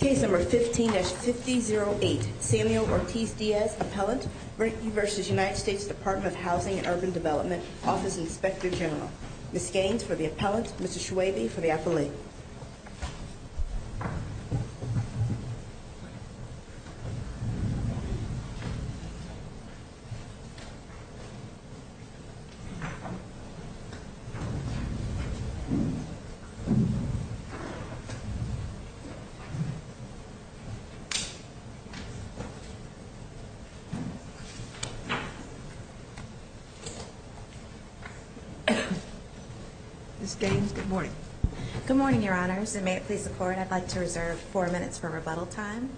Case number 15-5008, Samuel Ortiz-Diaz, Appellant v. United States Department of Housing and Urban Development, Office Inspector General Ms. Gaines for the Appellant, Mr. Schwabe for the Appellate Ms. Gaines, good morning. Good morning, Your Honors, and may it please the Court, I'd like to reserve four minutes for rebuttal time.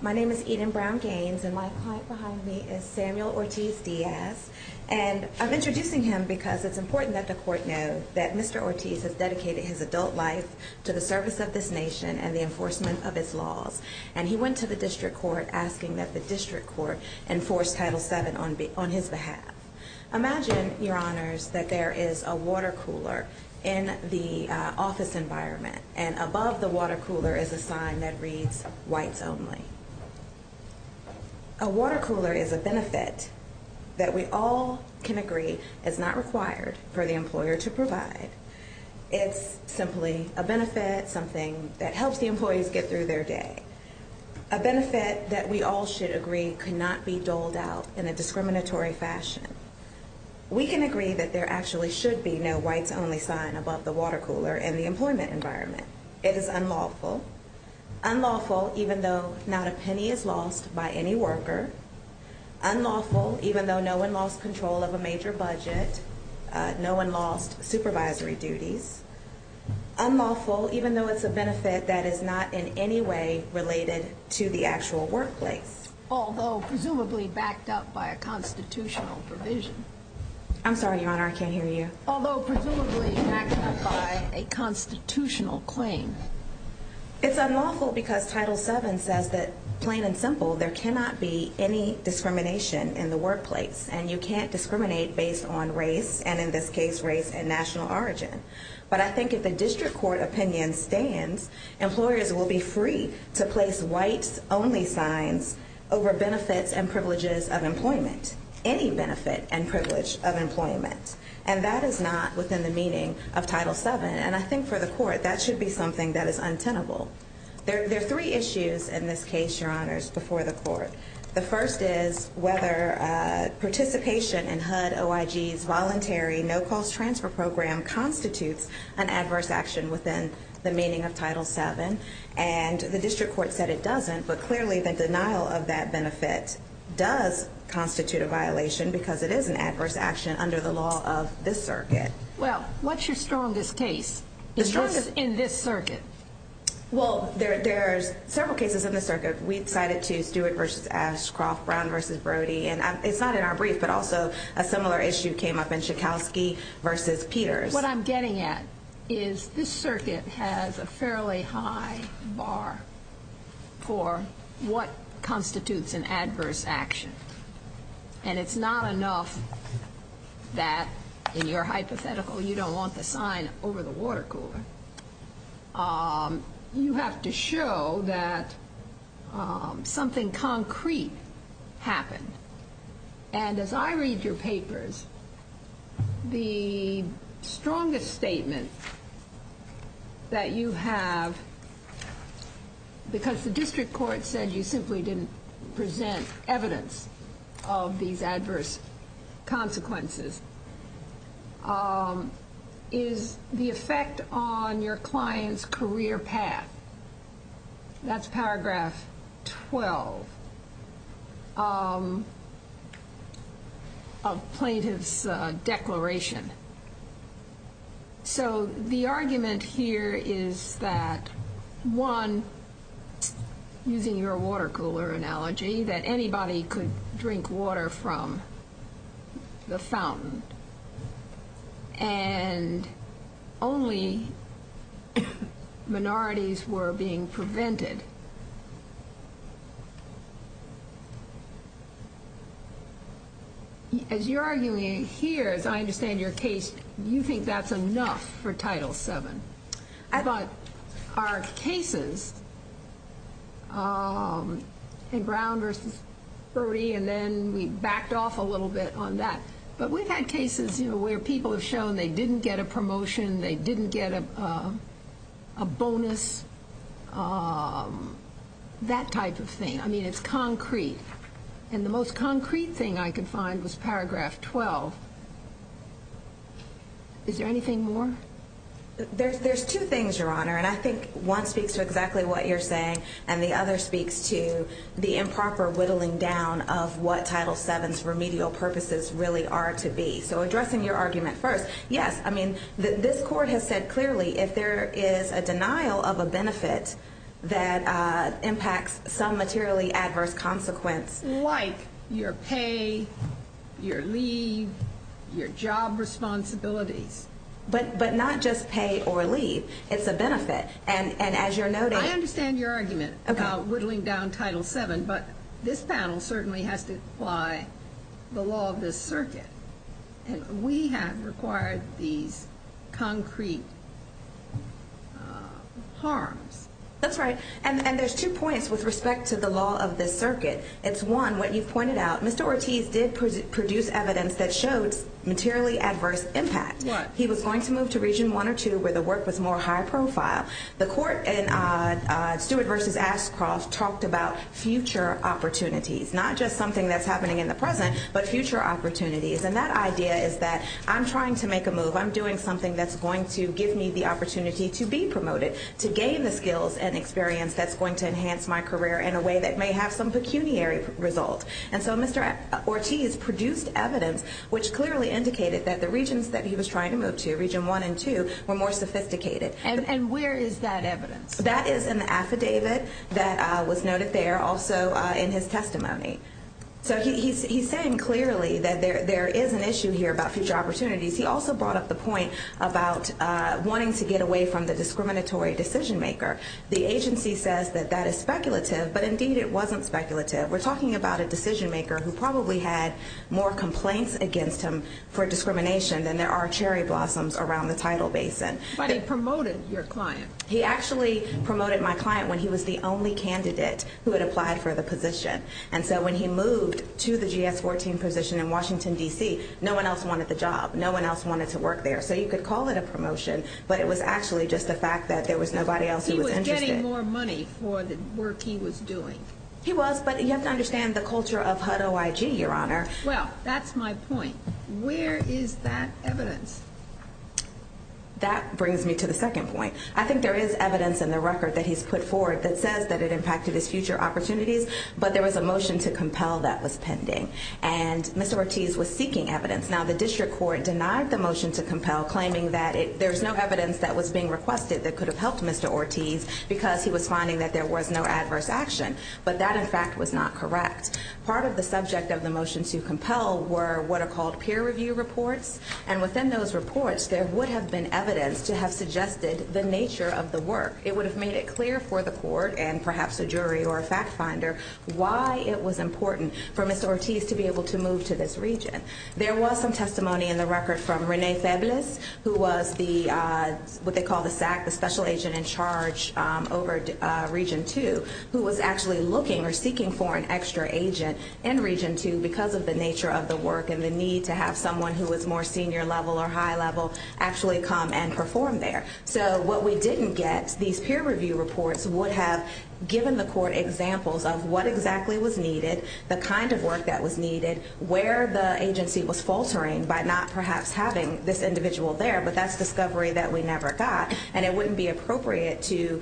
My name is Eden Brown Gaines, and my client behind me is Samuel Ortiz-Diaz. And I'm introducing him because it's important that the Court know that Mr. Ortiz has dedicated his adult life to the service of this nation and the enforcement of its laws. And he went to the District Court asking that the District Court enforce Title VII on his behalf. Imagine, Your Honors, that there is a water cooler in the office environment, and above the water cooler is a sign that reads, Whites Only. A water cooler is a benefit that we all can agree is not required for the employer to provide. It's simply a benefit, something that helps the employees get through their day. A benefit that we all should agree cannot be doled out in a discriminatory fashion. We can agree that there actually should be no Whites Only sign above the water cooler in the employment environment. It is unlawful. Unlawful even though not a penny is lost by any worker. Unlawful even though no one lost control of a major budget. No one lost supervisory duties. Unlawful even though it's a benefit that is not in any way related to the actual workplace. Although presumably backed up by a constitutional provision. I'm sorry, Your Honor, I can't hear you. Although presumably backed up by a constitutional claim. It's unlawful because Title VII says that, plain and simple, there cannot be any discrimination in the workplace. And you can't discriminate based on race, and in this case race and national origin. But I think if the district court opinion stands, employers will be free to place Whites Only signs over benefits and privileges of employment. Any benefit and privilege of employment. And that is not within the meaning of Title VII. And I think for the court, that should be something that is untenable. There are three issues in this case, Your Honor, before the court. The first is whether participation in HUD-OIG's voluntary no-cost transfer program constitutes an adverse action within the meaning of Title VII. And the district court said it doesn't, but clearly the denial of that benefit does constitute a violation because it is an adverse action under the law of this circuit. Well, what's your strongest case? The strongest? In this circuit. Well, there's several cases in this circuit. We cited two, Stewart v. Ashcroft, Brown v. Brody. And it's not in our brief, but also a similar issue came up in Schakowsky v. Peters. What I'm getting at is this circuit has a fairly high bar for what constitutes an adverse action. And it's not enough that in your hypothetical you don't want the sign over the water cooler. You have to show that something concrete happened. And as I read your papers, the strongest statement that you have, because the district court said you simply didn't present evidence of these adverse consequences, is the effect on your client's career path. That's paragraph 12 of plaintiff's declaration. So the argument here is that, one, using your water cooler analogy, that anybody could drink water from the fountain. And only minorities were being prevented. As you're arguing here, as I understand your case, you think that's enough for Title VII. But our cases in Brown v. Brody, and then we backed off a little bit on that, but we've had cases where people have shown they didn't get a promotion, they didn't get a bonus, that type of thing. I mean, it's concrete. And the most concrete thing I could find was paragraph 12. Is there anything more? There's two things, Your Honor, and I think one speaks to exactly what you're saying, and the other speaks to the improper whittling down of what Title VII's remedial purposes really are to be. So addressing your argument first, yes, I mean, this court has said clearly, if there is a denial of a benefit that impacts some materially adverse consequence, it's like your pay, your leave, your job responsibilities. But not just pay or leave. It's a benefit. And as you're noting – I understand your argument about whittling down Title VII, but this panel certainly has to apply the law of this circuit. And we have required these concrete harms. That's right. And there's two points with respect to the law of this circuit. It's, one, what you've pointed out, Mr. Ortiz did produce evidence that showed materially adverse impact. What? He was going to move to Region I or II where the work was more high profile. The court in Stewart v. Ashcroft talked about future opportunities, not just something that's happening in the present, but future opportunities. And that idea is that I'm trying to make a move, I'm doing something that's going to give me the opportunity to be promoted, to gain the skills and experience that's going to enhance my career in a way that may have some pecuniary result. And so Mr. Ortiz produced evidence which clearly indicated that the regions that he was trying to move to, Region I and II, were more sophisticated. And where is that evidence? That is in the affidavit that was noted there, also in his testimony. So he's saying clearly that there is an issue here about future opportunities. He also brought up the point about wanting to get away from the discriminatory decision maker. The agency says that that is speculative, but indeed it wasn't speculative. We're talking about a decision maker who probably had more complaints against him for discrimination than there are cherry blossoms around the tidal basin. But he promoted your client. He actually promoted my client when he was the only candidate who had applied for the position. And so when he moved to the GS-14 position in Washington, D.C., no one else wanted the job. No one else wanted to work there. So you could call it a promotion, but it was actually just the fact that there was nobody else who was interested. He was getting more money for the work he was doing. He was, but you have to understand the culture of HUD-OIG, Your Honor. Well, that's my point. Where is that evidence? That brings me to the second point. I think there is evidence in the record that he's put forward that says that it impacted his future opportunities, but there was a motion to compel that was pending. And Mr. Ortiz was seeking evidence. Now, the district court denied the motion to compel, claiming that there's no evidence that was being requested that could have helped Mr. Ortiz because he was finding that there was no adverse action. But that, in fact, was not correct. Part of the subject of the motion to compel were what are called peer review reports, and within those reports there would have been evidence to have suggested the nature of the work. It would have made it clear for the court and perhaps a jury or a fact finder why it was important for Mr. Ortiz to be able to move to this region. There was some testimony in the record from Rene Febles, who was what they call the SAC, the special agent in charge over Region 2, who was actually looking or seeking for an extra agent in Region 2 because of the nature of the work and the need to have someone who was more senior level or high level actually come and perform there. So what we didn't get, these peer review reports, would have given the court examples of what exactly was needed, the kind of work that was needed, where the agency was faltering by not perhaps having this individual there, but that's discovery that we never got. And it wouldn't be appropriate to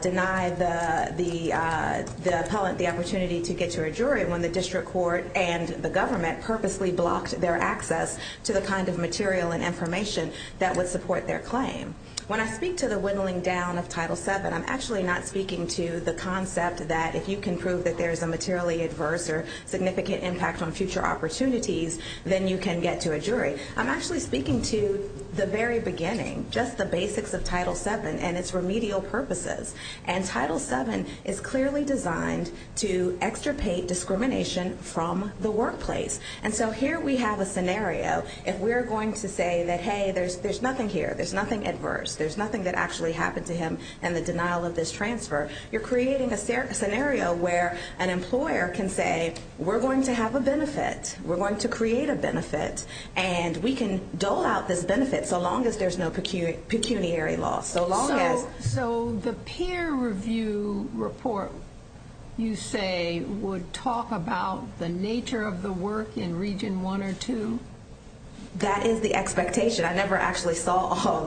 deny the appellant the opportunity to get to a jury when the district court and the government purposely blocked their access to the kind of material and information that would support their claim. When I speak to the whittling down of Title VII, I'm actually not speaking to the concept that if you can prove that there's a materially adverse or significant impact on future opportunities, then you can get to a jury. I'm actually speaking to the very beginning, just the basics of Title VII and its remedial purposes. And Title VII is clearly designed to extirpate discrimination from the workplace. And so here we have a scenario. If we're going to say that, hey, there's nothing here, there's nothing adverse, there's nothing that actually happened to him in the denial of this transfer, you're creating a scenario where an employer can say, we're going to have a benefit, we're going to create a benefit, and we can dole out this benefit so long as there's no pecuniary loss, so long as. So the peer review report, you say, would talk about the nature of the work in Region I or II? That is the expectation. I never actually saw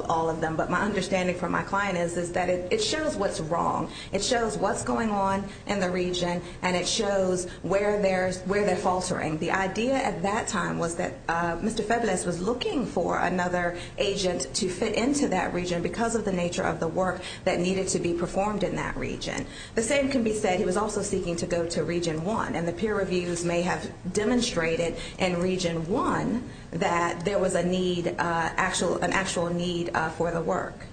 all of them, but my understanding from my client is that it shows what's wrong. It shows what's going on in the region, and it shows where they're faltering. The idea at that time was that Mr. Febles was looking for another agent to fit into that region because of the nature of the work that needed to be performed in that region. The same can be said, he was also seeking to go to Region I, and the peer reviews may have demonstrated in Region I that there was an actual need for the work.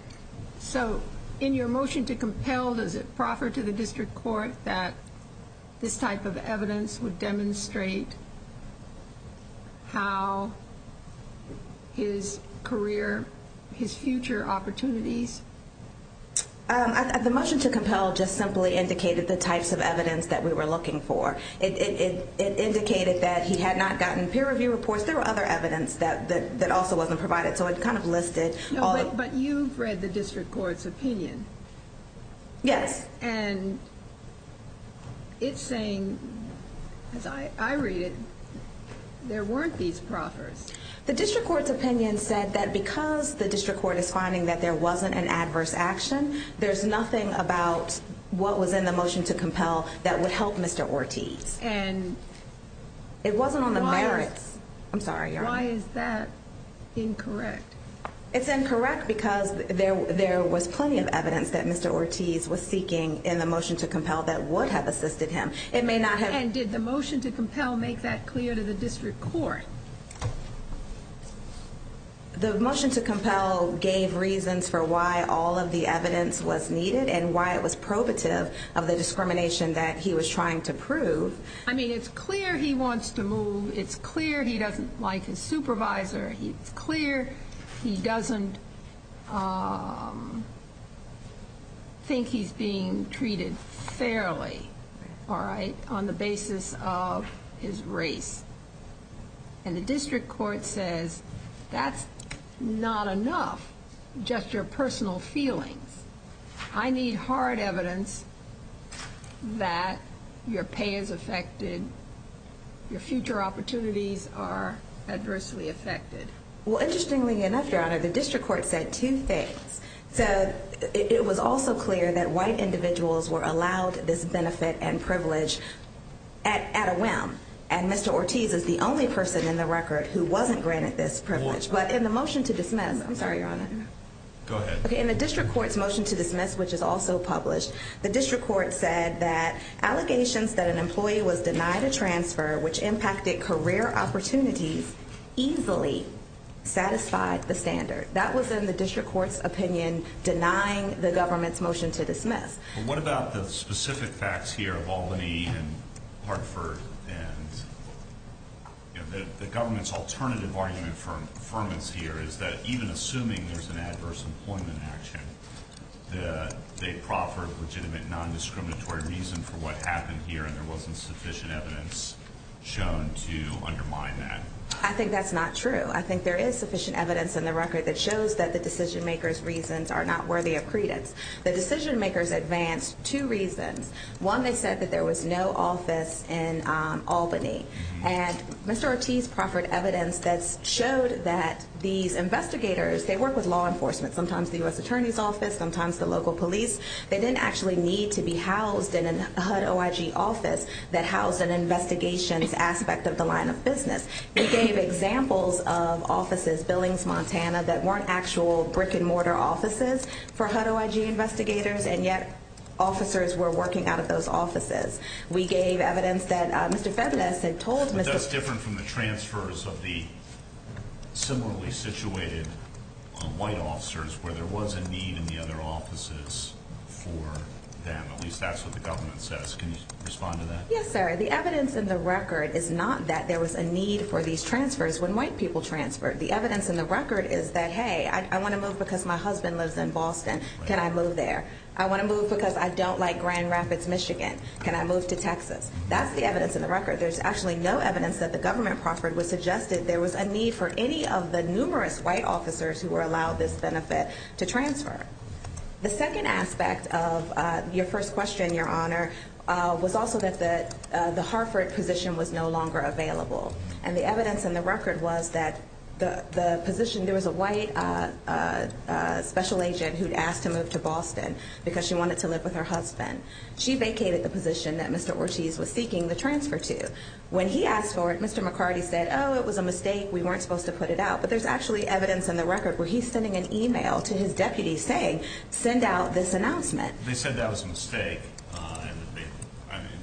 So in your motion to compel, does it proffer to the district court that this type of evidence would demonstrate how his career, his future opportunities? The motion to compel just simply indicated the types of evidence that we were looking for. It indicated that he had not gotten peer review reports. There were other evidence that also wasn't provided, so it kind of listed all of them. But you've read the district court's opinion. Yes. And it's saying, as I read it, there weren't these proffers. The district court's opinion said that because the district court is finding that there wasn't an adverse action, there's nothing about what was in the motion to compel that would help Mr. Ortiz. And why is that incorrect? It's incorrect because there was plenty of evidence that Mr. Ortiz was seeking in the motion to compel that would have assisted him. And did the motion to compel make that clear to the district court? The motion to compel gave reasons for why all of the evidence was needed and why it was probative of the discrimination that he was trying to prove. I mean, it's clear he wants to move. It's clear he doesn't like his supervisor. It's clear he doesn't think he's being treated fairly, all right, on the basis of his race. And the district court says that's not enough, just your personal feelings. I need hard evidence that your pay is affected, your future opportunities are adversely affected. Well, interestingly enough, Your Honor, the district court said two things. So it was also clear that white individuals were allowed this benefit and privilege at a whim, and Mr. Ortiz is the only person in the record who wasn't granted this privilege. But in the motion to dismiss, I'm sorry, Your Honor. Go ahead. Okay, in the district court's motion to dismiss, which is also published, the district court said that allegations that an employee was denied a transfer which impacted career opportunities easily satisfied the standard. That was in the district court's opinion, denying the government's motion to dismiss. What about the specific facts here of Albany and Hartford and the government's alternative argument for affirmance here is that even assuming there's an adverse employment action, they proffered legitimate non-discriminatory reason for what happened here and there wasn't sufficient evidence shown to undermine that. I think that's not true. I think there is sufficient evidence in the record that shows that the decision-makers' reasons are not worthy of credence. The decision-makers advanced two reasons. One, they said that there was no office in Albany. And Mr. Ortiz proffered evidence that showed that these investigators, they work with law enforcement, sometimes the U.S. Attorney's Office, sometimes the local police. They didn't actually need to be housed in a HUD-OIG office that housed an investigations aspect of the line of business. He gave examples of offices, Billings, Montana, that weren't actual brick-and-mortar offices for HUD-OIG investigators, and yet officers were working out of those offices. We gave evidence that Mr. Febles had told Mr. Febles... But that's different from the transfers of the similarly situated white officers where there was a need in the other offices for them. At least that's what the government says. Can you respond to that? Yes, sir. The evidence in the record is not that there was a need for these transfers when white people transferred. The evidence in the record is that, hey, I want to move because my husband lives in Boston. Can I move there? I want to move because I don't like Grand Rapids, Michigan. Can I move to Texas? That's the evidence in the record. There's actually no evidence that the government proffered which suggested there was a need for any of the numerous white officers who were allowed this benefit to transfer. The second aspect of your first question, Your Honor, was also that the Hartford position was no longer available. And the evidence in the record was that the position, there was a white special agent who'd asked to move to Boston because she wanted to live with her husband. She vacated the position that Mr. Ortiz was seeking the transfer to. When he asked for it, Mr. McCarty said, oh, it was a mistake, we weren't supposed to put it out. But there's actually evidence in the record where he's sending an e-mail to his deputy saying, send out this announcement. They said that was a mistake.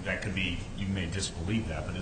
That could be, you may disbelieve that, but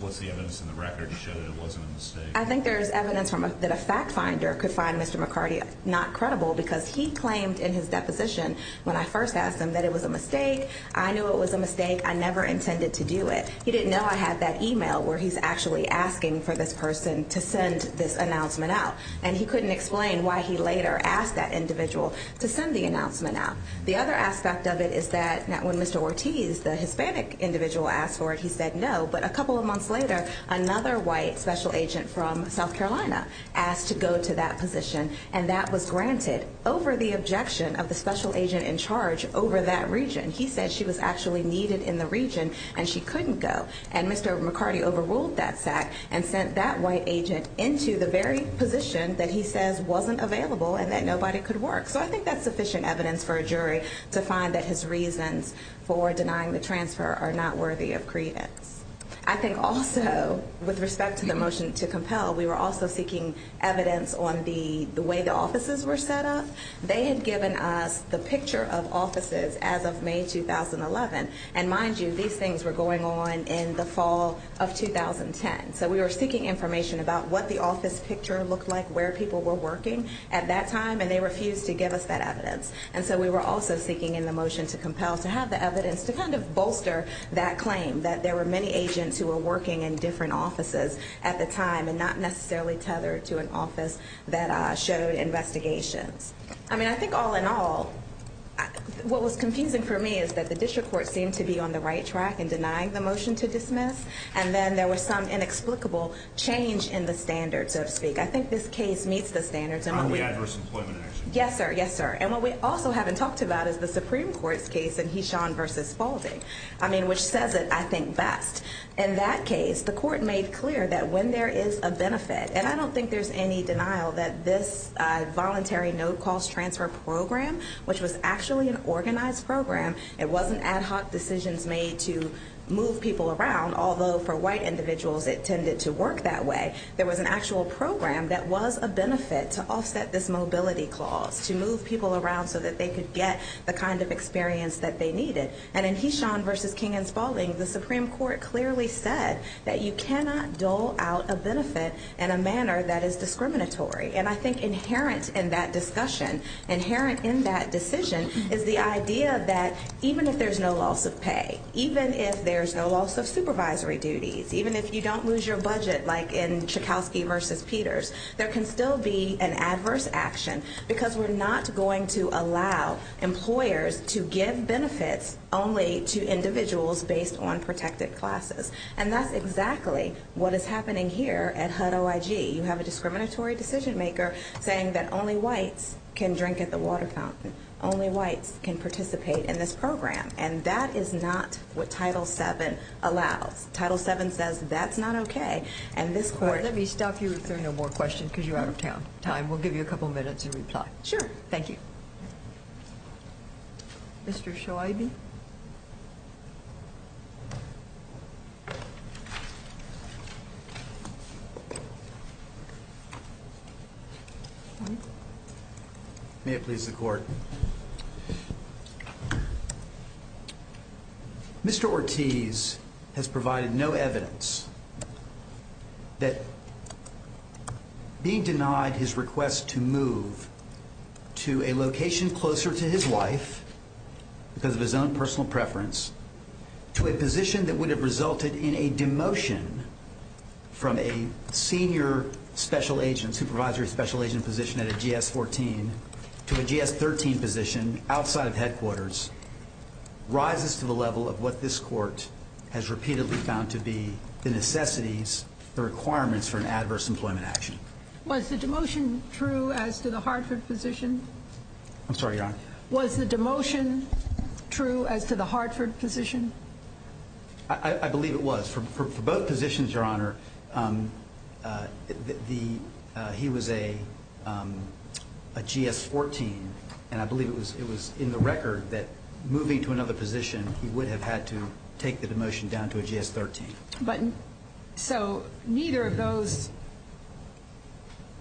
what's the evidence in the record to show that it wasn't a mistake? I think there's evidence that a fact finder could find Mr. McCarty not credible because he claimed in his deposition when I first asked him that it was a mistake, I knew it was a mistake, I never intended to do it. He didn't know I had that e-mail where he's actually asking for this person to send this announcement out. And he couldn't explain why he later asked that individual to send the announcement out. The other aspect of it is that when Mr. Ortiz, the Hispanic individual, asked for it, he said no. But a couple of months later, another white special agent from South Carolina asked to go to that position, and that was granted over the objection of the special agent in charge over that region. He said she was actually needed in the region and she couldn't go. And Mr. McCarty overruled that fact and sent that white agent into the very position that he says wasn't available and that nobody could work. So I think that's sufficient evidence for a jury to find that his reasons for denying the transfer are not worthy of credence. I think also with respect to the motion to compel, we were also seeking evidence on the way the offices were set up. They had given us the picture of offices as of May 2011, and mind you, these things were going on in the fall of 2010. So we were seeking information about what the office picture looked like, where people were working at that time, and they refused to give us that evidence. And so we were also seeking in the motion to compel to have the evidence to kind of bolster that claim that there were many agents who were working in different offices at the time and not necessarily tethered to an office that showed investigations. I mean, I think all in all, what was confusing for me is that the district court seemed to be on the right track in denying the motion to dismiss, and then there was some inexplicable change in the standards, so to speak. I think this case meets the standards. On the adverse employment action. Yes, sir. Yes, sir. And what we also haven't talked about is the Supreme Court's case in Heeshawn v. Spaulding, I mean, which says it, I think, best. In that case, the court made clear that when there is a benefit, and I don't think there's any denial that this voluntary no-cost transfer program, which was actually an organized program, it wasn't ad hoc decisions made to move people around, although for white individuals it tended to work that way. There was an actual program that was a benefit to offset this mobility clause, to move people around so that they could get the kind of experience that they needed. And in Heeshawn v. King and Spaulding, the Supreme Court clearly said that you cannot dole out a benefit in a manner that is discriminatory. And I think inherent in that discussion, inherent in that decision, is the idea that even if there's no loss of pay, even if there's no loss of supervisory duties, even if you don't lose your budget like in Chekowsky v. Peters, there can still be an adverse action because we're not going to allow employers to give benefits only to individuals based on protected classes. And that's exactly what is happening here at HUD-OIG. You have a discriminatory decision-maker saying that only whites can drink at the water fountain, only whites can participate in this program, and that is not what Title VII allows. Title VII says that's not okay. Let me stop you if there are no more questions because you're out of time. We'll give you a couple minutes to reply. Sure. Thank you. Mr. Shoiby. May it please the Court. Mr. Ortiz has provided no evidence that being denied his request to move to a location closer to his wife because of his own personal preference to a position that would have resulted in a demotion from a senior special agent, supervisory special agent position at a GS-14 to a GS-13 position outside of headquarters rises to the level of what this Court has repeatedly found to be the necessities, the requirements for an adverse employment action. Was the demotion true as to the Hartford position? I'm sorry, Your Honor. Was the demotion true as to the Hartford position? I believe it was. For both positions, Your Honor, he was a GS-14, and I believe it was in the record that moving to another position, he would have had to take the demotion down to a GS-13. So neither of those,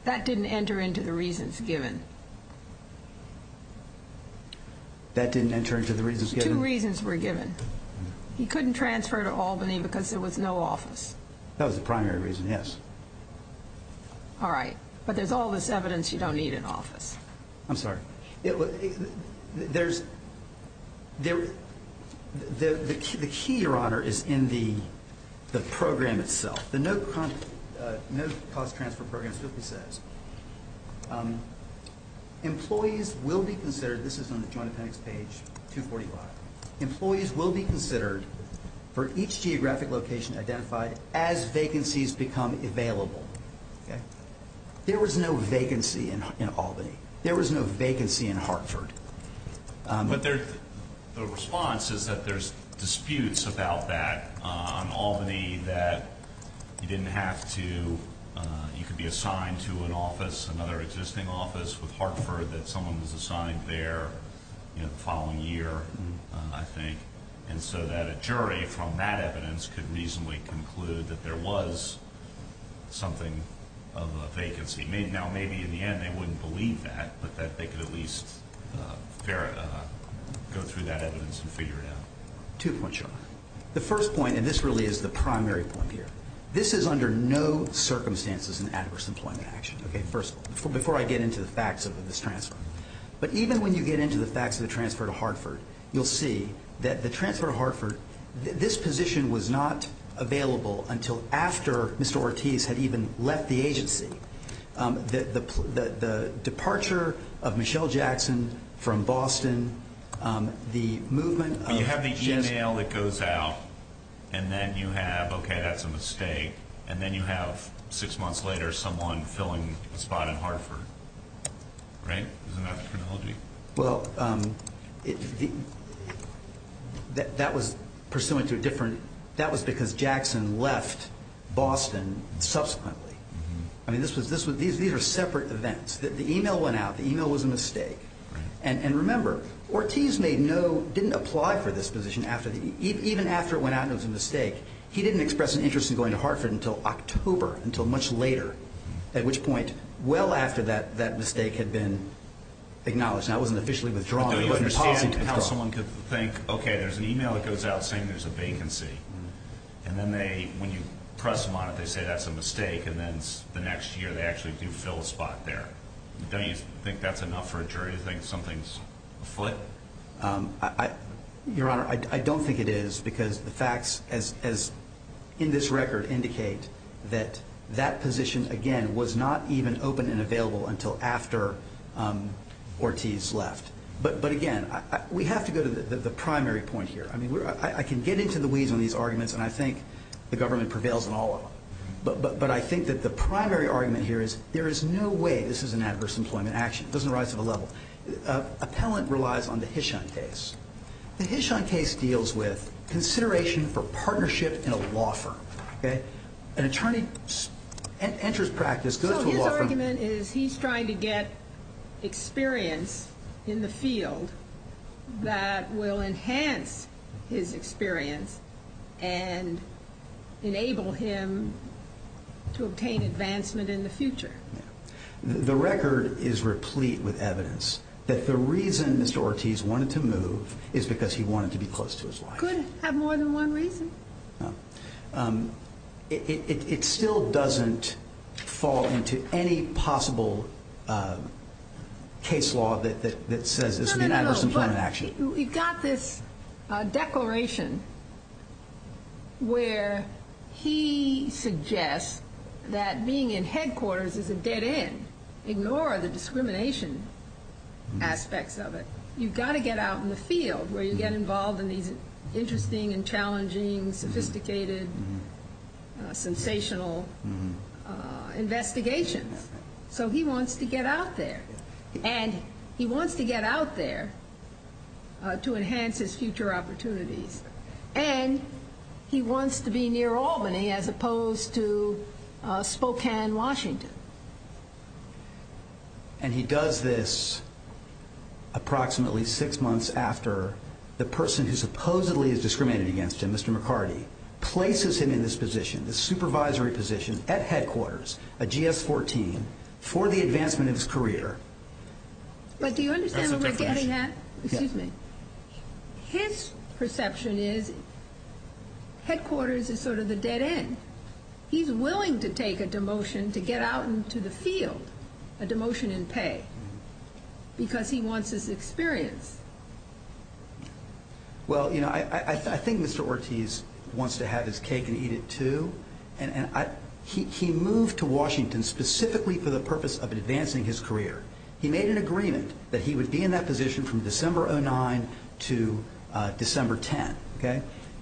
that didn't enter into the reasons given? That didn't enter into the reasons given? Two reasons were given. He couldn't transfer to Albany because there was no office. That was the primary reason, yes. All right. But there's all this evidence you don't need in office. I'm sorry. The key, Your Honor, is in the program itself. The no-cost transfer program strictly says employees will be considered, this is on the Joint Appendix page 245, employees will be considered for each geographic location identified as vacancies become available. There was no vacancy in Albany. There was no vacancy in Hartford. But the response is that there's disputes about that, on Albany, that you didn't have to, you could be assigned to an office, another existing office with Hartford, that someone was assigned there the following year, I think, and so that a jury from that evidence could reasonably conclude that there was something of a vacancy. Now, maybe in the end they wouldn't believe that, but that they could at least go through that evidence and figure it out. Two points, Your Honor. The first point, and this really is the primary point here, this is under no circumstances an adverse employment action. Okay, first, before I get into the facts of this transfer. But even when you get into the facts of the transfer to Hartford, you'll see that the transfer to Hartford, this position was not available until after Mr. Ortiz had even left the agency. The departure of Michelle Jackson from Boston, the movement of Jessica. But you have the email that goes out, and then you have, okay, that's a mistake, and then you have six months later someone filling a spot in Hartford. Right? Isn't that the terminology? Well, that was because Jackson left Boston subsequently. I mean, these are separate events. The email went out. The email was a mistake. And remember, Ortiz didn't apply for this position even after it went out and it was a mistake. He didn't express an interest in going to Hartford until October, until much later, at which point, well after that mistake had been acknowledged. Now, it wasn't officially withdrawn. It wasn't a policy to withdraw. But don't you understand how someone could think, okay, there's an email that goes out saying there's a vacancy. And then when you press them on it, they say that's a mistake, and then the next year they actually do fill a spot there. Don't you think that's enough for a jury to think something's afoot? Your Honor, I don't think it is because the facts, as in this record, indicate that that position, again, was not even open and available until after Ortiz left. But, again, we have to go to the primary point here. I mean, I can get into the weeds on these arguments, and I think the government prevails in all of them. But I think that the primary argument here is there is no way this is an adverse employment action. It doesn't rise to the level. Appellant relies on the Hishon case. The Hishon case deals with consideration for partnership in a law firm. Okay? An attorney enters practice, goes to a law firm. So his argument is he's trying to get experience in the field that will enhance his experience and enable him to obtain advancement in the future. The record is replete with evidence that the reason Mr. Ortiz wanted to move is because he wanted to be close to his wife. Could have more than one reason. It still doesn't fall into any possible case law that says this is an adverse employment action. No, no, no. We've got this declaration where he suggests that being in headquarters is a dead end. Ignore the discrimination aspects of it. You've got to get out in the field where you get involved in these interesting and challenging, sophisticated, sensational investigations. So he wants to get out there. And he wants to get out there to enhance his future opportunities. And he wants to be near Albany as opposed to Spokane, Washington. And he does this approximately six months after the person who supposedly is discriminated against him, Mr. McCarty, places him in this position, this supervisory position at headquarters, a GS-14, for the advancement of his career. But do you understand what we're getting at? Excuse me. His perception is headquarters is sort of the dead end. He's willing to take a demotion to get out into the field, a demotion in pay, because he wants his experience. Well, you know, I think Mr. Ortiz wants to have his cake and eat it too. He moved to Washington specifically for the purpose of advancing his career. He made an agreement that he would be in that position from December 09 to December 10.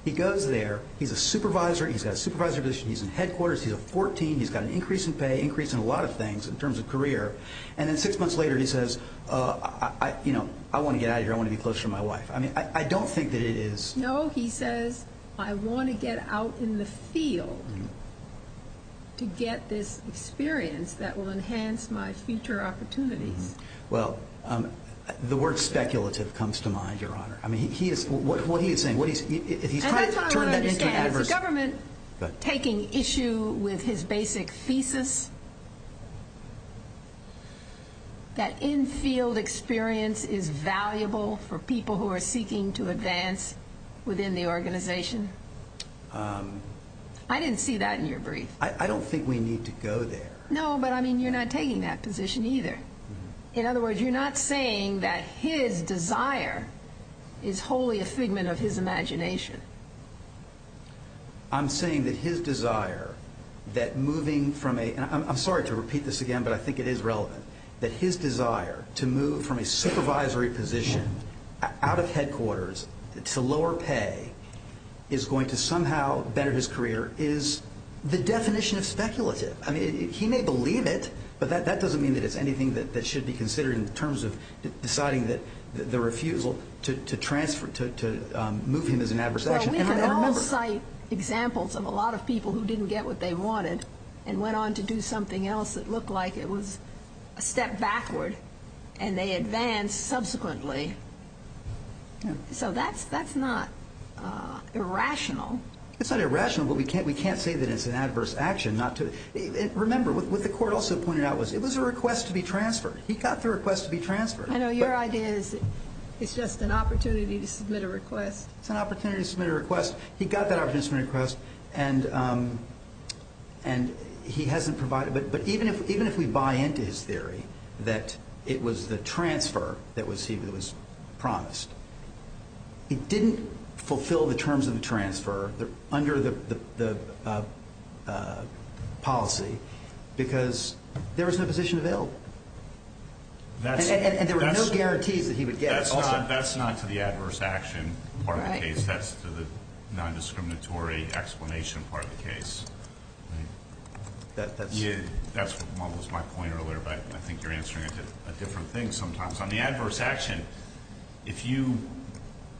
He goes there. He's a supervisor. He's got a supervisory position. He's in headquarters. He's a 14. He's got an increase in pay, increase in a lot of things in terms of career. And then six months later he says, you know, I want to get out of here. I want to be closer to my wife. I mean, I don't think that it is. No, he says, I want to get out in the field to get this experience that will enhance my future opportunities. Well, the word speculative comes to mind, Your Honor. I mean, what he is saying, if he's trying to turn that into an adversary. And that's what I want to understand. Is the government taking issue with his basic thesis that infield experience is valuable for people who are seeking to advance within the organization? I didn't see that in your brief. I don't think we need to go there. No, but, I mean, you're not taking that position either. In other words, you're not saying that his desire is wholly a figment of his imagination. I'm saying that his desire that moving from a – and I'm sorry to repeat this again, but I think it is relevant – that his desire to move from a supervisory position out of headquarters to lower pay is going to somehow better his career is the definition of speculative. I mean, he may believe it, but that doesn't mean that it's anything that should be considered in terms of deciding the refusal to move him as an adversary. Well, we can all cite examples of a lot of people who didn't get what they wanted and went on to do something else that looked like it was a step backward, and they advanced subsequently. So that's not irrational. It's not irrational, but we can't say that it's an adverse action not to. Remember, what the court also pointed out was it was a request to be transferred. He got the request to be transferred. I know your idea is it's just an opportunity to submit a request. It's an opportunity to submit a request. He got that opportunity to submit a request, and he hasn't provided it. But even if we buy into his theory that it was the transfer that was promised, he didn't fulfill the terms of the transfer under the policy because there was no position available. And there were no guarantees that he would get it. That's not to the adverse action part of the case. That's to the non-discriminatory explanation part of the case. That was my point earlier, but I think you're answering a different thing sometimes. On the adverse action, if you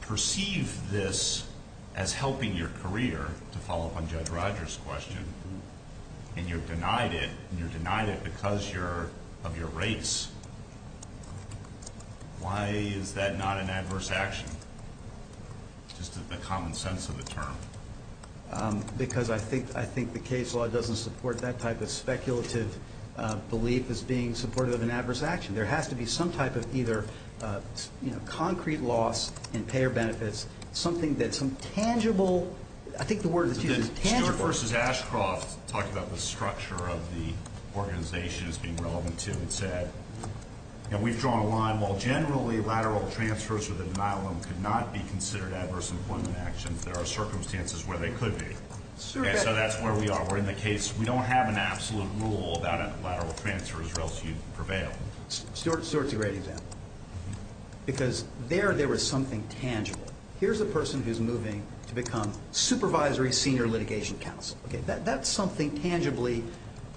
perceive this as helping your career, to follow up on Judge Rogers' question, and you're denied it, because of your race, why is that not an adverse action? Just the common sense of the term. Because I think the case law doesn't support that type of speculative belief as being supportive of an adverse action. There has to be some type of either concrete loss in payer benefits, something that's tangible. I think the word that's used is tangible. Stuart v. Ashcroft talked about the structure of the organization as being relevant to it, and said, you know, we've drawn a line. While generally lateral transfers or the denial of them could not be considered adverse employment actions, there are circumstances where they could be. And so that's where we are. We're in the case. We don't have an absolute rule about a lateral transfer as well as you prevail. Stuart's a great example. Because there, there was something tangible. Here's a person who's moving to become supervisory senior litigation counsel. That's something tangibly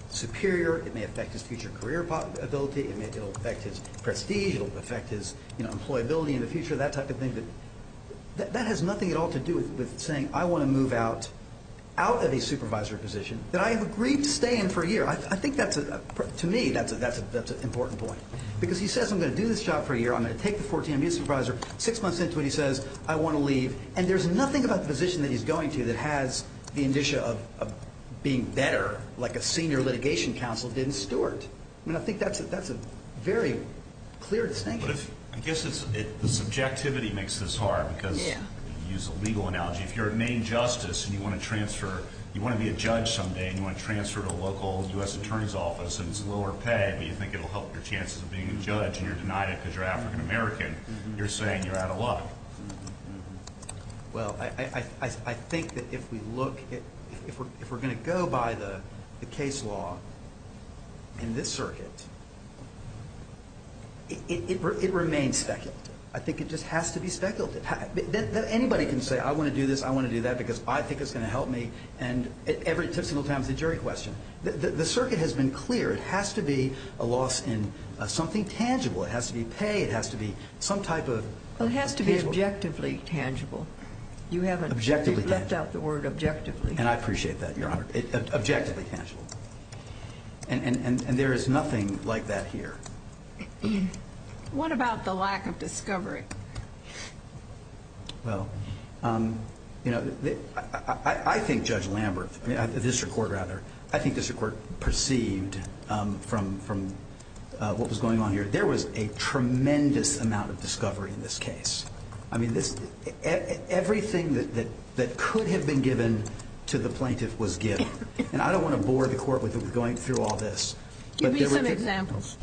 superior. It may affect his future career ability. It'll affect his prestige. It'll affect his employability in the future, that type of thing. But that has nothing at all to do with saying I want to move out of a supervisory position that I have agreed to stay in for a year. I think that's, to me, that's an important point. Because he says I'm going to do this job for a year. I'm going to take the 14, I'm going to supervise her. Six months into it, he says I want to leave. And there's nothing about the position that he's going to that has the indicia of being better like a senior litigation counsel did in Stuart. I mean, I think that's a very clear distinction. But if, I guess it's, the subjectivity makes this hard because you use a legal analogy. If you're a main justice and you want to transfer, you want to be a judge someday and you want to transfer to a local U.S. attorney's office and it's lower pay but you think it will help your chances of being a judge and you're denied it because you're African American, you're saying you're out of luck. Well, I think that if we look, if we're going to go by the case law in this circuit, it remains speculative. I think it just has to be speculative. Anybody can say I want to do this, I want to do that because I think it's going to help me. And every single time it's a jury question. The circuit has been clear. It has to be a loss in something tangible. It has to be pay. It has to be some type of tangible. It has to be objectively tangible. You haven't left out the word objectively. And I appreciate that, Your Honor. Objectively tangible. And there is nothing like that here. What about the lack of discovery? Well, you know, I think Judge Lambert, the district court rather, I think the district court perceived from what was going on here, there was a tremendous amount of discovery in this case. I mean, everything that could have been given to the plaintiff was given. And I don't want to bore the court with going through all this. Give me some examples.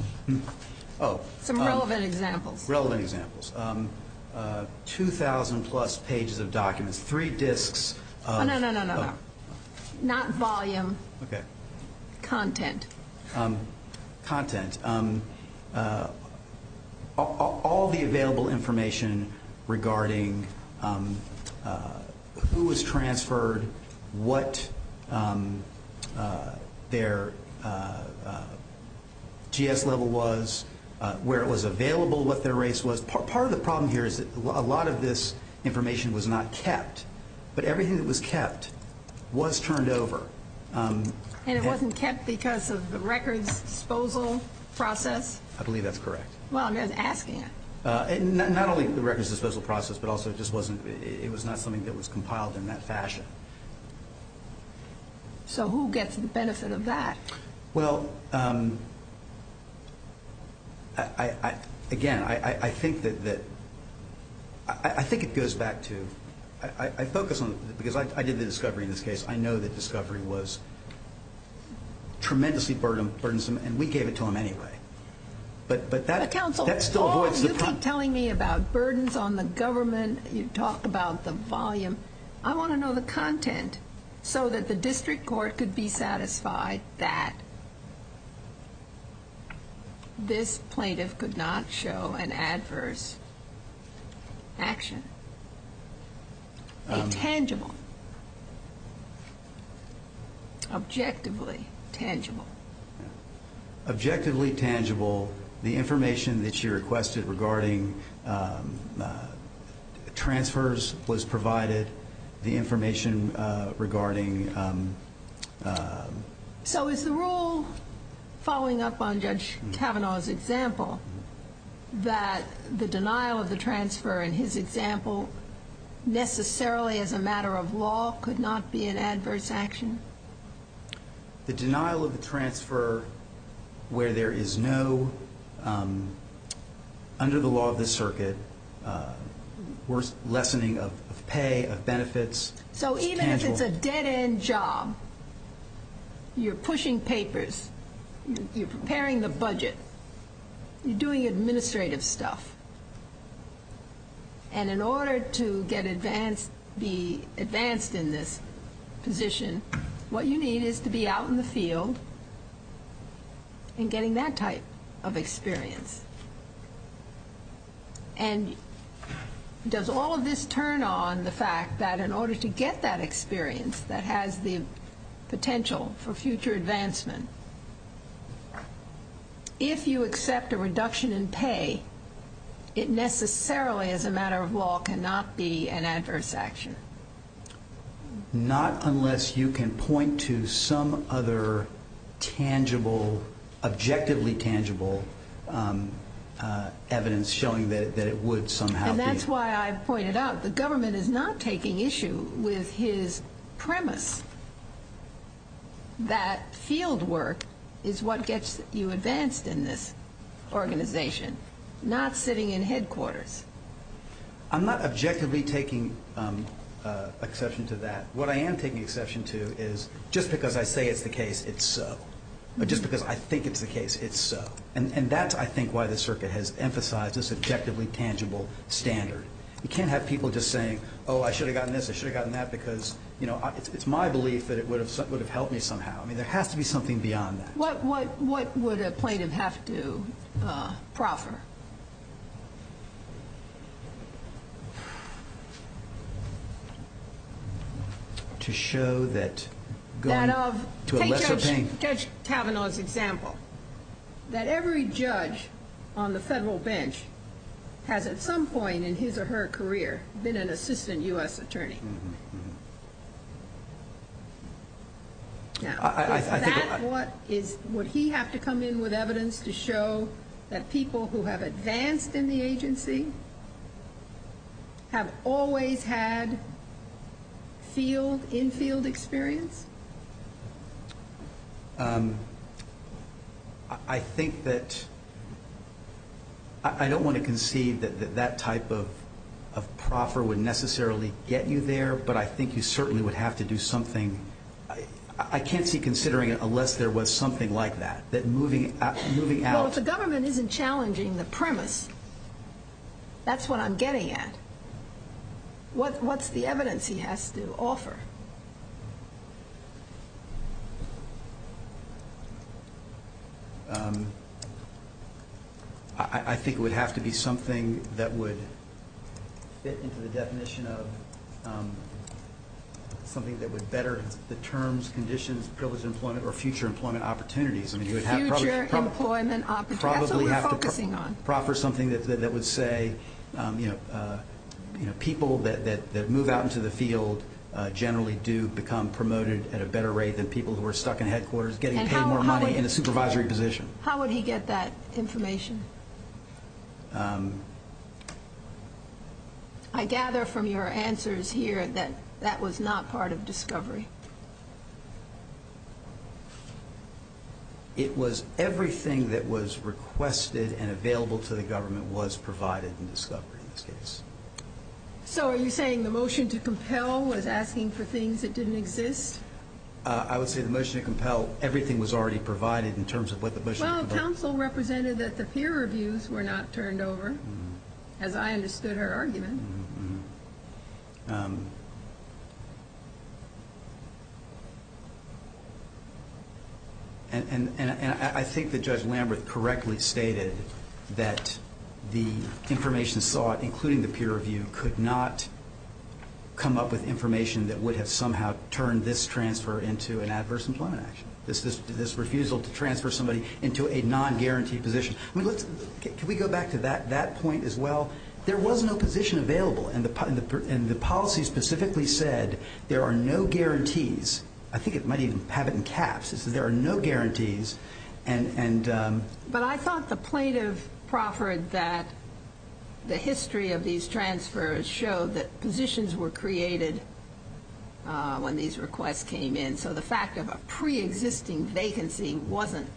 Some relevant examples. Relevant examples. 2,000-plus pages of documents. Three disks. Oh, no, no, no, no, no. Not volume. Okay. Content. Content. All the available information regarding who was transferred, what their GS level was, where it was available, what their race was. Part of the problem here is that a lot of this information was not kept. But everything that was kept was turned over. And it wasn't kept because of the records disposal process? I believe that's correct. Well, I'm just asking it. Not only the records disposal process, but also it just wasn't, it was not something that was compiled in that fashion. So who gets the benefit of that? Well, again, I think it goes back to, I focus on, because I did the discovery in this case, I know that discovery was tremendously burdensome, and we gave it to them anyway. But that still avoids the problem. You keep telling me about burdens on the government. You talk about the volume. I want to know the content so that the district court could be satisfied that this plaintiff could not show an adverse action, a tangible, objectively tangible. Objectively tangible. The information that you requested regarding transfers was provided. The information regarding... So is the rule following up on Judge Kavanaugh's example that the denial of the transfer in his example necessarily as a matter of law could not be an adverse action? The denial of the transfer where there is no, under the law of this circuit, lessening of pay, of benefits. So even if it's a dead-end job, you're pushing papers, you're preparing the budget, you're doing administrative stuff. And in order to be advanced in this position, what you need is to be out in the field and getting that type of experience. And does all of this turn on the fact that in order to get that experience that has the potential for future advancement, if you accept a reduction in pay, it necessarily as a matter of law cannot be an adverse action? Not unless you can point to some other tangible, objectively tangible evidence showing that it would somehow be. And that's why I pointed out the government is not taking issue with his premise that field work is what gets you advanced in this organization, not sitting in headquarters. I'm not objectively taking exception to that. What I am taking exception to is just because I say it's the case, it's so. But just because I think it's the case, it's so. And that's, I think, why the circuit has emphasized this objectively tangible standard. You can't have people just saying, oh, I should have gotten this, I should have gotten that, because it's my belief that it would have helped me somehow. I mean, there has to be something beyond that. What would a plaintiff have to proffer? To show that going to a lesser pain. Take Judge Tavanaugh's example, that every judge on the federal bench has at some point in his or her career been an assistant U.S. attorney. Would he have to come in with evidence to show that people who have advanced in the agency have always had field, in-field experience? I think that, I don't want to concede that that type of proffer would necessarily get you there, but I think you certainly would have to do something. I can't see considering it unless there was something like that, that moving out. Well, if the government isn't challenging the premise, that's what I'm getting at. What's the evidence he has to offer? I think it would have to be something that would fit into the definition of something that would better the terms, conditions, privilege of employment, or future employment opportunities. Future employment opportunities, that's what we're focusing on. A proffer is something that would say people that move out into the field generally do become promoted at a better rate than people who are stuck in headquarters getting paid more money in a supervisory position. How would he get that information? I gather from your answers here that that was not part of discovery. It was everything that was requested and available to the government was provided in discovery in this case. So are you saying the motion to compel was asking for things that didn't exist? I would say the motion to compel, everything was already provided in terms of what the motion to compel... Well, counsel represented that the peer reviews were not turned over, as I understood her argument. And I think that Judge Lambert correctly stated that the information sought, including the peer review, could not come up with information that would have somehow turned this transfer into an adverse employment action. This refusal to transfer somebody into a non-guaranteed position. Can we go back to that point as well? There was no position available, and the policy specifically said there are no guarantees. I think it might even have it in caps. It says there are no guarantees and... But I thought the plaintiff proffered that the history of these transfers showed that positions were created when these requests came in. So the fact of a pre-existing vacancy wasn't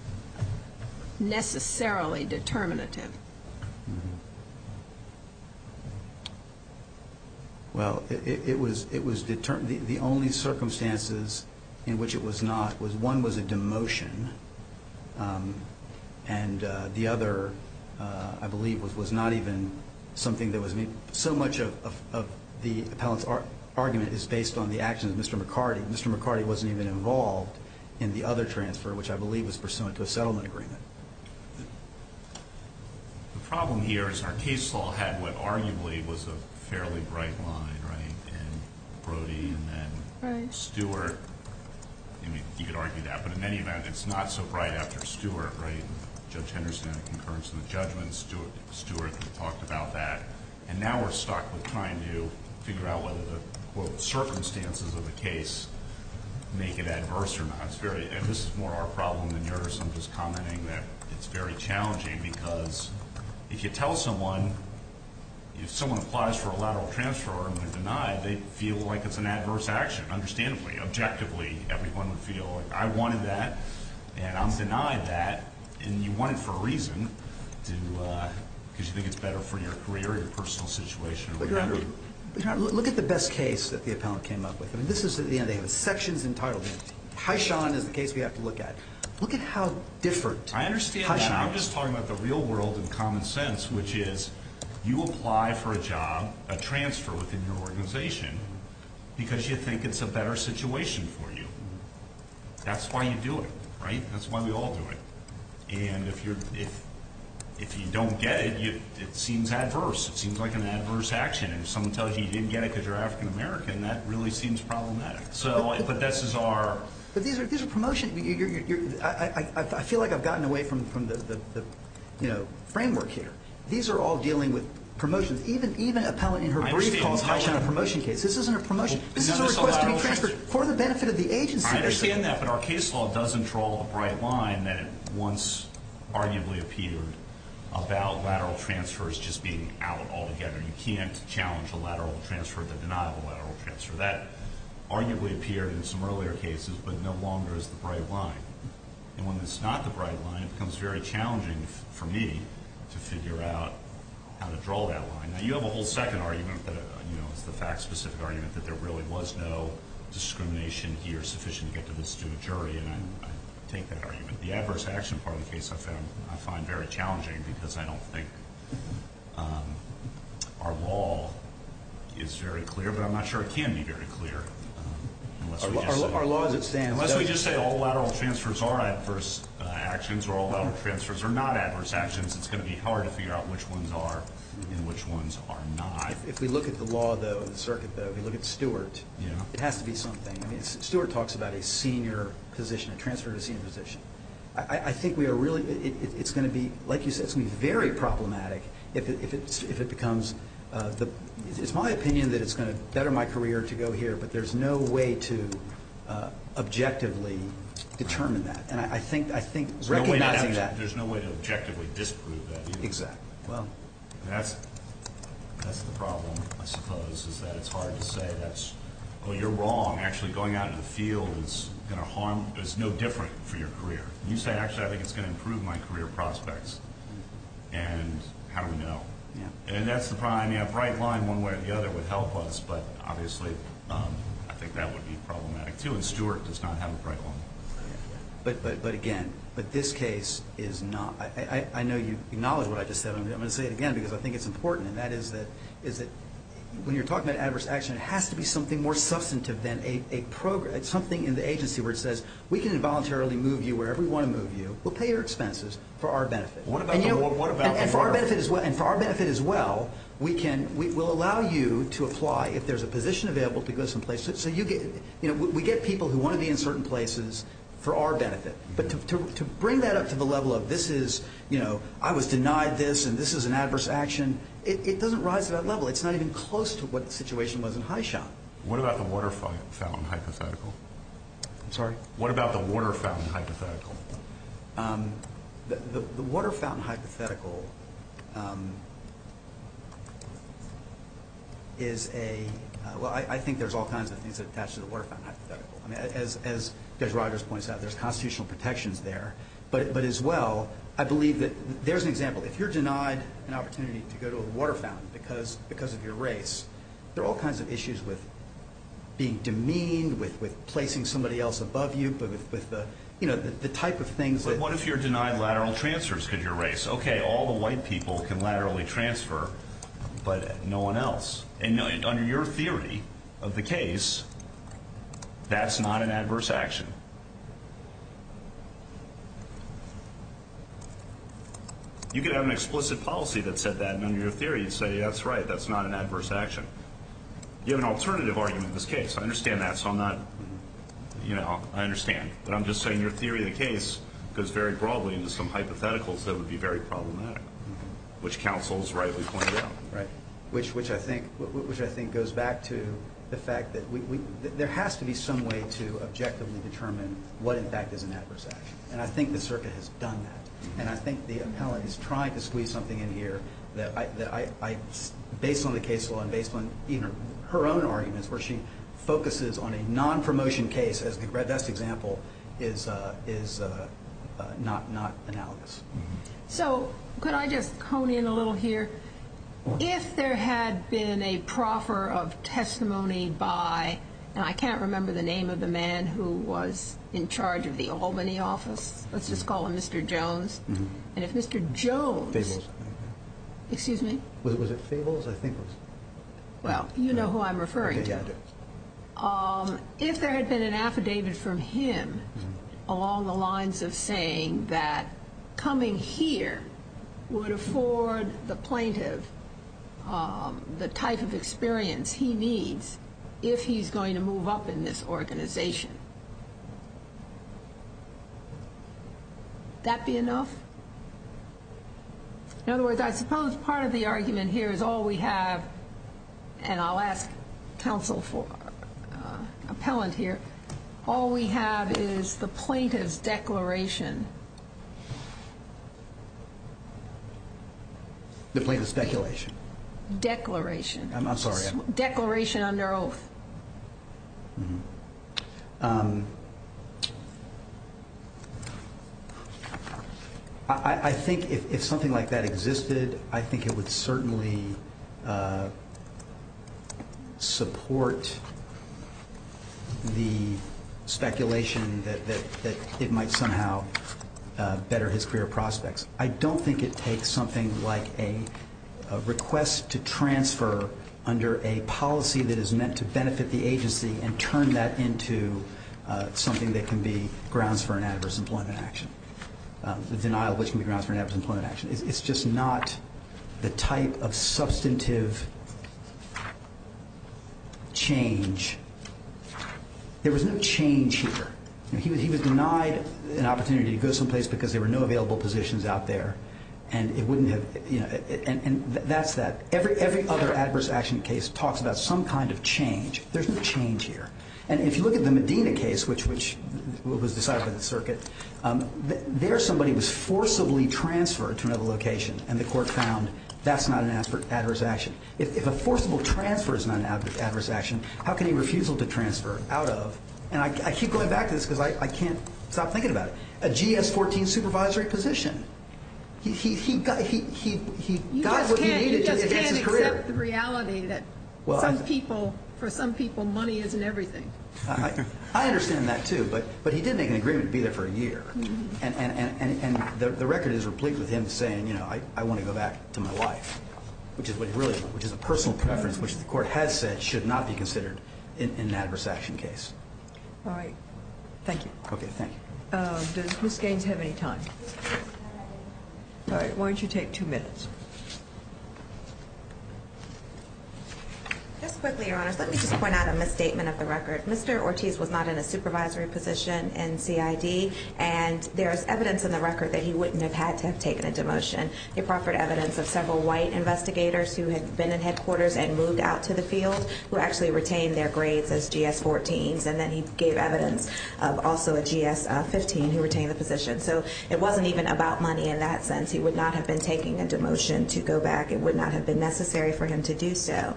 necessarily determinative. Well, it was determined... The only circumstances in which it was not was one was a demotion, and the other, I believe, was not even something that was... So much of the appellant's argument is based on the actions of Mr. McCarty. Mr. McCarty wasn't even involved in the other transfer, which I believe was pursuant to a settlement agreement. The problem here is our case law had what arguably was a fairly bright line, right? And Brody and then Stewart. I mean, you could argue that, but in any event, it's not so bright after Stewart, right? Judge Henderson had a concurrence in the judgment. Stewart talked about that. And now we're stuck with trying to figure out whether the, quote, circumstances of the case make it adverse or not. And this is more our problem than yours. I'm just commenting that it's very challenging because if you tell someone, if someone applies for a lateral transfer and they're denied, they feel like it's an adverse action, understandably. Objectively, everyone would feel like, I wanted that, and I'm denied that, and you want it for a reason, because you think it's better for your career or your personal situation or whatever. Look at the best case that the appellant came up with. I mean, this is the end of the day. The section's entitled. Hyshon is the case we have to look at. Look at how different Hyshon is. I understand that. I'm just talking about the real world and common sense, which is you apply for a job, a transfer within your organization because you think it's a better situation for you. That's why you do it, right? That's why we all do it. And if you don't get it, it seems adverse. It seems like an adverse action. And if someone tells you you didn't get it because you're African American, that really seems problematic. But this is our— But these are promotions. I feel like I've gotten away from the framework here. These are all dealing with promotions. Even appellant in her brief called Hyshon a promotion case. This isn't a promotion. This is a request to be transferred for the benefit of the agency. I understand that, but our case law doesn't draw a bright line that once arguably appeared about lateral transfers just being out altogether. You can't challenge a lateral transfer, the denial of a lateral transfer. That arguably appeared in some earlier cases, but no longer is the bright line. And when it's not the bright line, it becomes very challenging for me to figure out how to draw that line. Now, you have a whole second argument that is the fact-specific argument that there really was no discrimination here sufficient to get to the student jury, and I take that argument. The adverse action part of the case I find very challenging because I don't think our law is very clear, but I'm not sure it can be very clear unless we just say— Our law as it stands— Unless we just say all lateral transfers are adverse actions or all lateral transfers are not adverse actions, it's going to be hard to figure out which ones are and which ones are not. If we look at the law, though, the circuit, though, if we look at Stewart, it has to be something. I mean, Stewart talks about a senior position, a transfer to senior position. I think we are really—it's going to be, like you said, it's going to be very problematic if it becomes— it's my opinion that it's going to better my career to go here, but there's no way to objectively determine that. And I think recognizing that— There's no way to objectively disprove that either. Exactly. Well, that's the problem, I suppose, is that it's hard to say that's— Oh, you're wrong. Actually, going out into the field is going to harm—is no different for your career. You say, actually, I think it's going to improve my career prospects, and how do we know? Yeah. And that's the problem. I mean, a bright line one way or the other would help us, but obviously I think that would be problematic too, and Stewart does not have a bright line. But again, this case is not—I know you acknowledge what I just said, but I'm going to say it again because I think it's important, and that is that when you're talking about adverse action, it has to be something more substantive than a—something in the agency where it says, we can involuntarily move you wherever we want to move you. We'll pay your expenses for our benefit. What about the work? And for our benefit as well, we can—we'll allow you to apply if there's a position available to go someplace. So you get—we get people who want to be in certain places for our benefit, but to bring that up to the level of this is—I was denied this and this is an adverse action, it doesn't rise to that level. It's not even close to what the situation was in High Shot. What about the water fountain hypothetical? I'm sorry? What about the water fountain hypothetical? The water fountain hypothetical is a—well, I think there's all kinds of things attached to the water fountain hypothetical. I mean, as Judge Rogers points out, there's constitutional protections there, but as well, I believe that—there's an example. If you're denied an opportunity to go to a water fountain because of your race, there are all kinds of issues with being demeaned, with placing somebody else above you, with the type of things that— But what if you're denied lateral transfers because of your race? Okay, all the white people can laterally transfer, but no one else. And under your theory of the case, that's not an adverse action. You could have an explicit policy that said that, and under your theory you'd say, that's right, that's not an adverse action. You have an alternative argument in this case. I understand that, so I'm not—you know, I understand. But I'm just saying your theory of the case goes very broadly into some hypotheticals that would be very problematic, which counsels rightly pointed out. Right, which I think goes back to the fact that there has to be some way to objectively determine what, in fact, is an adverse action. And I think the circuit has done that. And I think the appellant is trying to squeeze something in here that I— her own arguments where she focuses on a non-promotion case as the best example is not analogous. So could I just hone in a little here? If there had been a proffer of testimony by— and I can't remember the name of the man who was in charge of the Albany office. Let's just call him Mr. Jones. And if Mr. Jones— Fables, I think. Excuse me? Was it Fables? I think it was— Well, you know who I'm referring to. Okay, yeah, I do. If there had been an affidavit from him along the lines of saying that coming here would afford the plaintiff the type of experience he needs if he's going to move up in this organization, would that be enough? In other words, I suppose part of the argument here is all we have— and I'll ask counsel for appellant here— all we have is the plaintiff's declaration. The plaintiff's speculation. Declaration. I'm sorry. Declaration under oath. Mm-hmm. I think if something like that existed, I think it would certainly support the speculation that it might somehow better his career prospects. I don't think it takes something like a request to transfer under a policy that is meant to benefit the agency and turn that into something that can be grounds for an adverse employment action, the denial of which can be grounds for an adverse employment action. It's just not the type of substantive change. There was no change here. He was denied an opportunity to go someplace because there were no available positions out there, and it wouldn't have—and that's that. Every other adverse action case talks about some kind of change. There's no change here. And if you look at the Medina case, which was decided by the circuit, there somebody was forcibly transferred to another location, and the court found that's not an adverse action. If a forcible transfer is not an adverse action, how can a refusal to transfer out of— and I keep going back to this because I can't stop thinking about it—a GS-14 supervisory position. He got what he needed to advance his career. You just can't accept the reality that for some people money isn't everything. I understand that, too, but he did make an agreement to be there for a year, and the record is replete with him saying, you know, I want to go back to my wife, which is a personal preference which the court has said should not be considered in an adverse action case. All right. Thank you. Okay, thank you. Does Ms. Gaines have any time? All right, why don't you take two minutes? Just quickly, Your Honors, let me just point out a misstatement of the record. Mr. Ortiz was not in a supervisory position in CID, and there is evidence in the record that he wouldn't have had to have taken a demotion. He proffered evidence of several white investigators who had been in headquarters and moved out to the field who actually retained their grades as GS-14s, and then he gave evidence of also a GS-15 who retained the position. So it wasn't even about money in that sense. He would not have been taking a demotion to go back. It would not have been necessary for him to do so.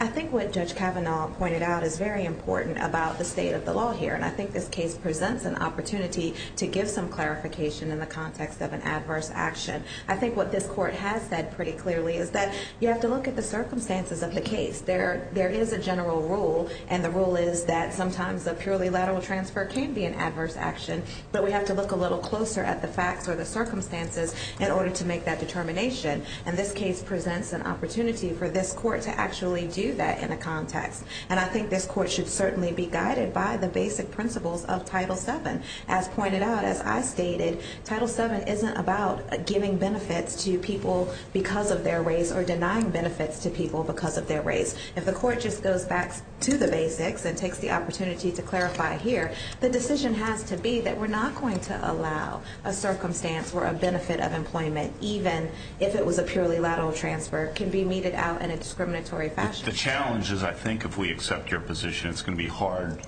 I think what Judge Kavanaugh pointed out is very important about the state of the law here, and I think this case presents an opportunity to give some clarification in the context of an adverse action. I think what this court has said pretty clearly is that you have to look at the circumstances of the case. There is a general rule, and the rule is that sometimes a purely lateral transfer can be an adverse action, but we have to look a little closer at the facts or the circumstances in order to make that determination. And this case presents an opportunity for this court to actually do that in a context. And I think this court should certainly be guided by the basic principles of Title VII. As pointed out, as I stated, Title VII isn't about giving benefits to people because of their race or denying benefits to people because of their race. If the court just goes back to the basics and takes the opportunity to clarify here, the decision has to be that we're not going to allow a circumstance where a benefit of employment, even if it was a purely lateral transfer, can be meted out in a discriminatory fashion. The challenge is, I think, if we accept your position, it's going to be hard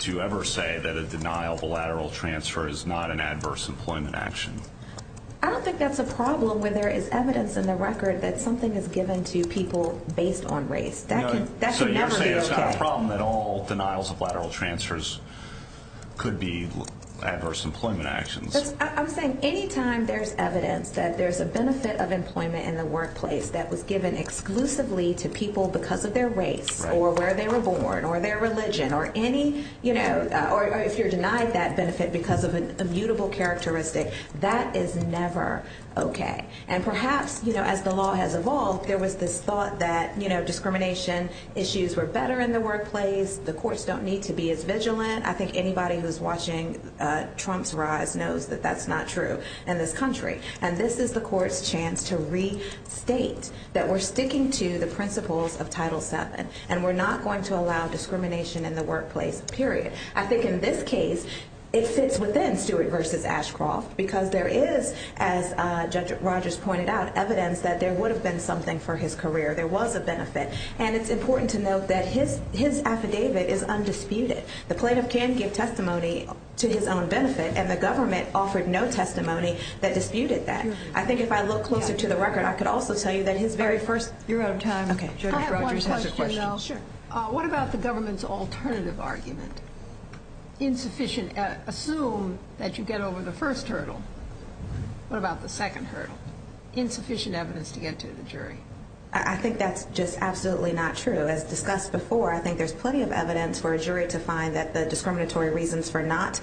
to ever say that a denial of a lateral transfer is not an adverse employment action. I don't think that's a problem when there is evidence in the record that something is given to people based on race. That can never be okay. So you're saying it's not a problem that all denials of lateral transfers could be adverse employment actions? I'm saying any time there's evidence that there's a benefit of employment in the workplace that was given exclusively to people because of their race or where they were born or their religion or any, you know, or if you're denied that benefit because of an immutable characteristic, that is never okay. And perhaps, you know, as the law has evolved, there was this thought that, you know, discrimination issues were better in the workplace, the courts don't need to be as vigilant. I think anybody who's watching Trump's rise knows that that's not true in this country. And this is the court's chance to restate that we're sticking to the principles of Title VII and we're not going to allow discrimination in the workplace, period. I think in this case it fits within Stewart v. Ashcroft because there is, as Judge Rogers pointed out, evidence that there would have been something for his career, there was a benefit. And it's important to note that his affidavit is undisputed. The plaintiff can give testimony to his own benefit and the government offered no testimony that disputed that. I think if I look closer to the record, I could also tell you that his very first- You're out of time. Okay. I have one question, though. Sure. What about the government's alternative argument? Insufficient, assume that you get over the first hurdle. What about the second hurdle? Insufficient evidence to get to the jury. I think that's just absolutely not true. As discussed before, I think there's plenty of evidence for a jury to find that the discriminatory reasons for not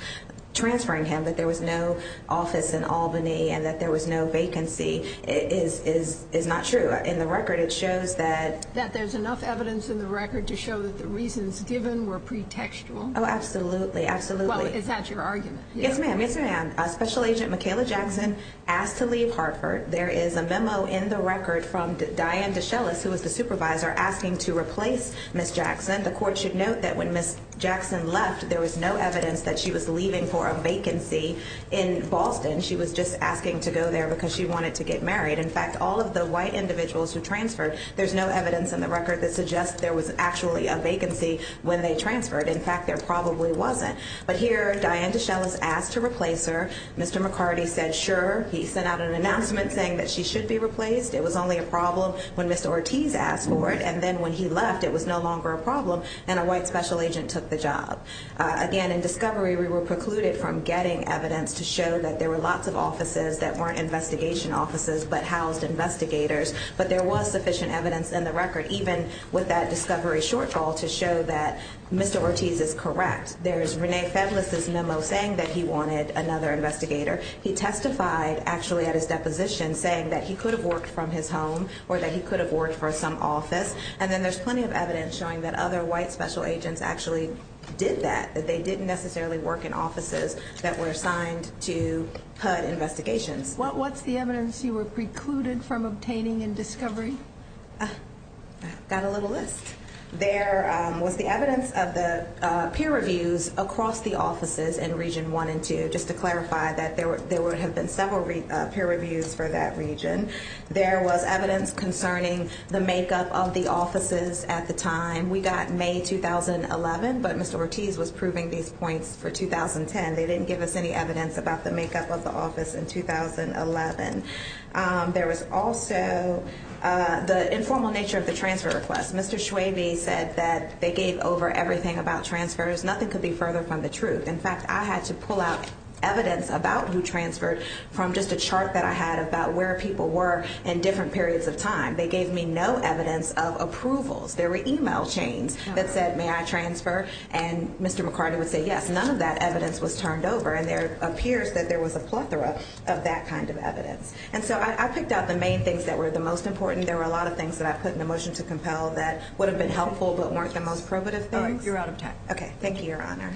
transferring him, that there was no office in Albany and that there was no vacancy, is not true. In the record it shows that- That there's enough evidence in the record to show that the reasons given were pretextual. Oh, absolutely, absolutely. Well, is that your argument? Yes, ma'am, yes, ma'am. Special Agent Michaela Jackson asked to leave Hartford. There is a memo in the record from Diane Deshellis, who was the supervisor, asking to replace Ms. Jackson. The court should note that when Ms. Jackson left, there was no evidence that she was leaving for a vacancy in Boston. She was just asking to go there because she wanted to get married. In fact, all of the white individuals who transferred, there's no evidence in the record that suggests there was actually a vacancy when they transferred. In fact, there probably wasn't. But here, Diane Deshellis asked to replace her. Mr. McCarty said, sure. He sent out an announcement saying that she should be replaced. It was only a problem when Ms. Ortiz asked for it. And then when he left, it was no longer a problem, and a white special agent took the job. Again, in discovery, we were precluded from getting evidence to show that there were lots of offices that weren't investigation offices but housed investigators. But there was sufficient evidence in the record, even with that discovery shortfall, to show that Ms. Ortiz is correct. There's Rene Febles' memo saying that he wanted another investigator. He testified actually at his deposition saying that he could have worked from his home or that he could have worked for some office. And then there's plenty of evidence showing that other white special agents actually did that, that they didn't necessarily work in offices that were assigned to HUD investigations. What's the evidence you were precluded from obtaining in discovery? I've got a little list. There was the evidence of the peer reviews across the offices in Region 1 and 2, just to clarify that there would have been several peer reviews for that region. There was evidence concerning the makeup of the offices at the time. We got May 2011, but Mr. Ortiz was proving these points for 2010. They didn't give us any evidence about the makeup of the office in 2011. There was also the informal nature of the transfer request. Mr. Schwabe said that they gave over everything about transfers. Nothing could be further from the truth. In fact, I had to pull out evidence about who transferred from just a chart that I had about where people were in different periods of time. They gave me no evidence of approvals. There were e-mail chains that said, may I transfer? And Mr. McCarty would say, yes. None of that evidence was turned over, and there appears that there was a plethora of that kind of evidence. And so I picked out the main things that were the most important. There were a lot of things that I put in the motion to compel that would have been helpful but weren't the most probative things. You're out of time. Okay. Thank you, Your Honor.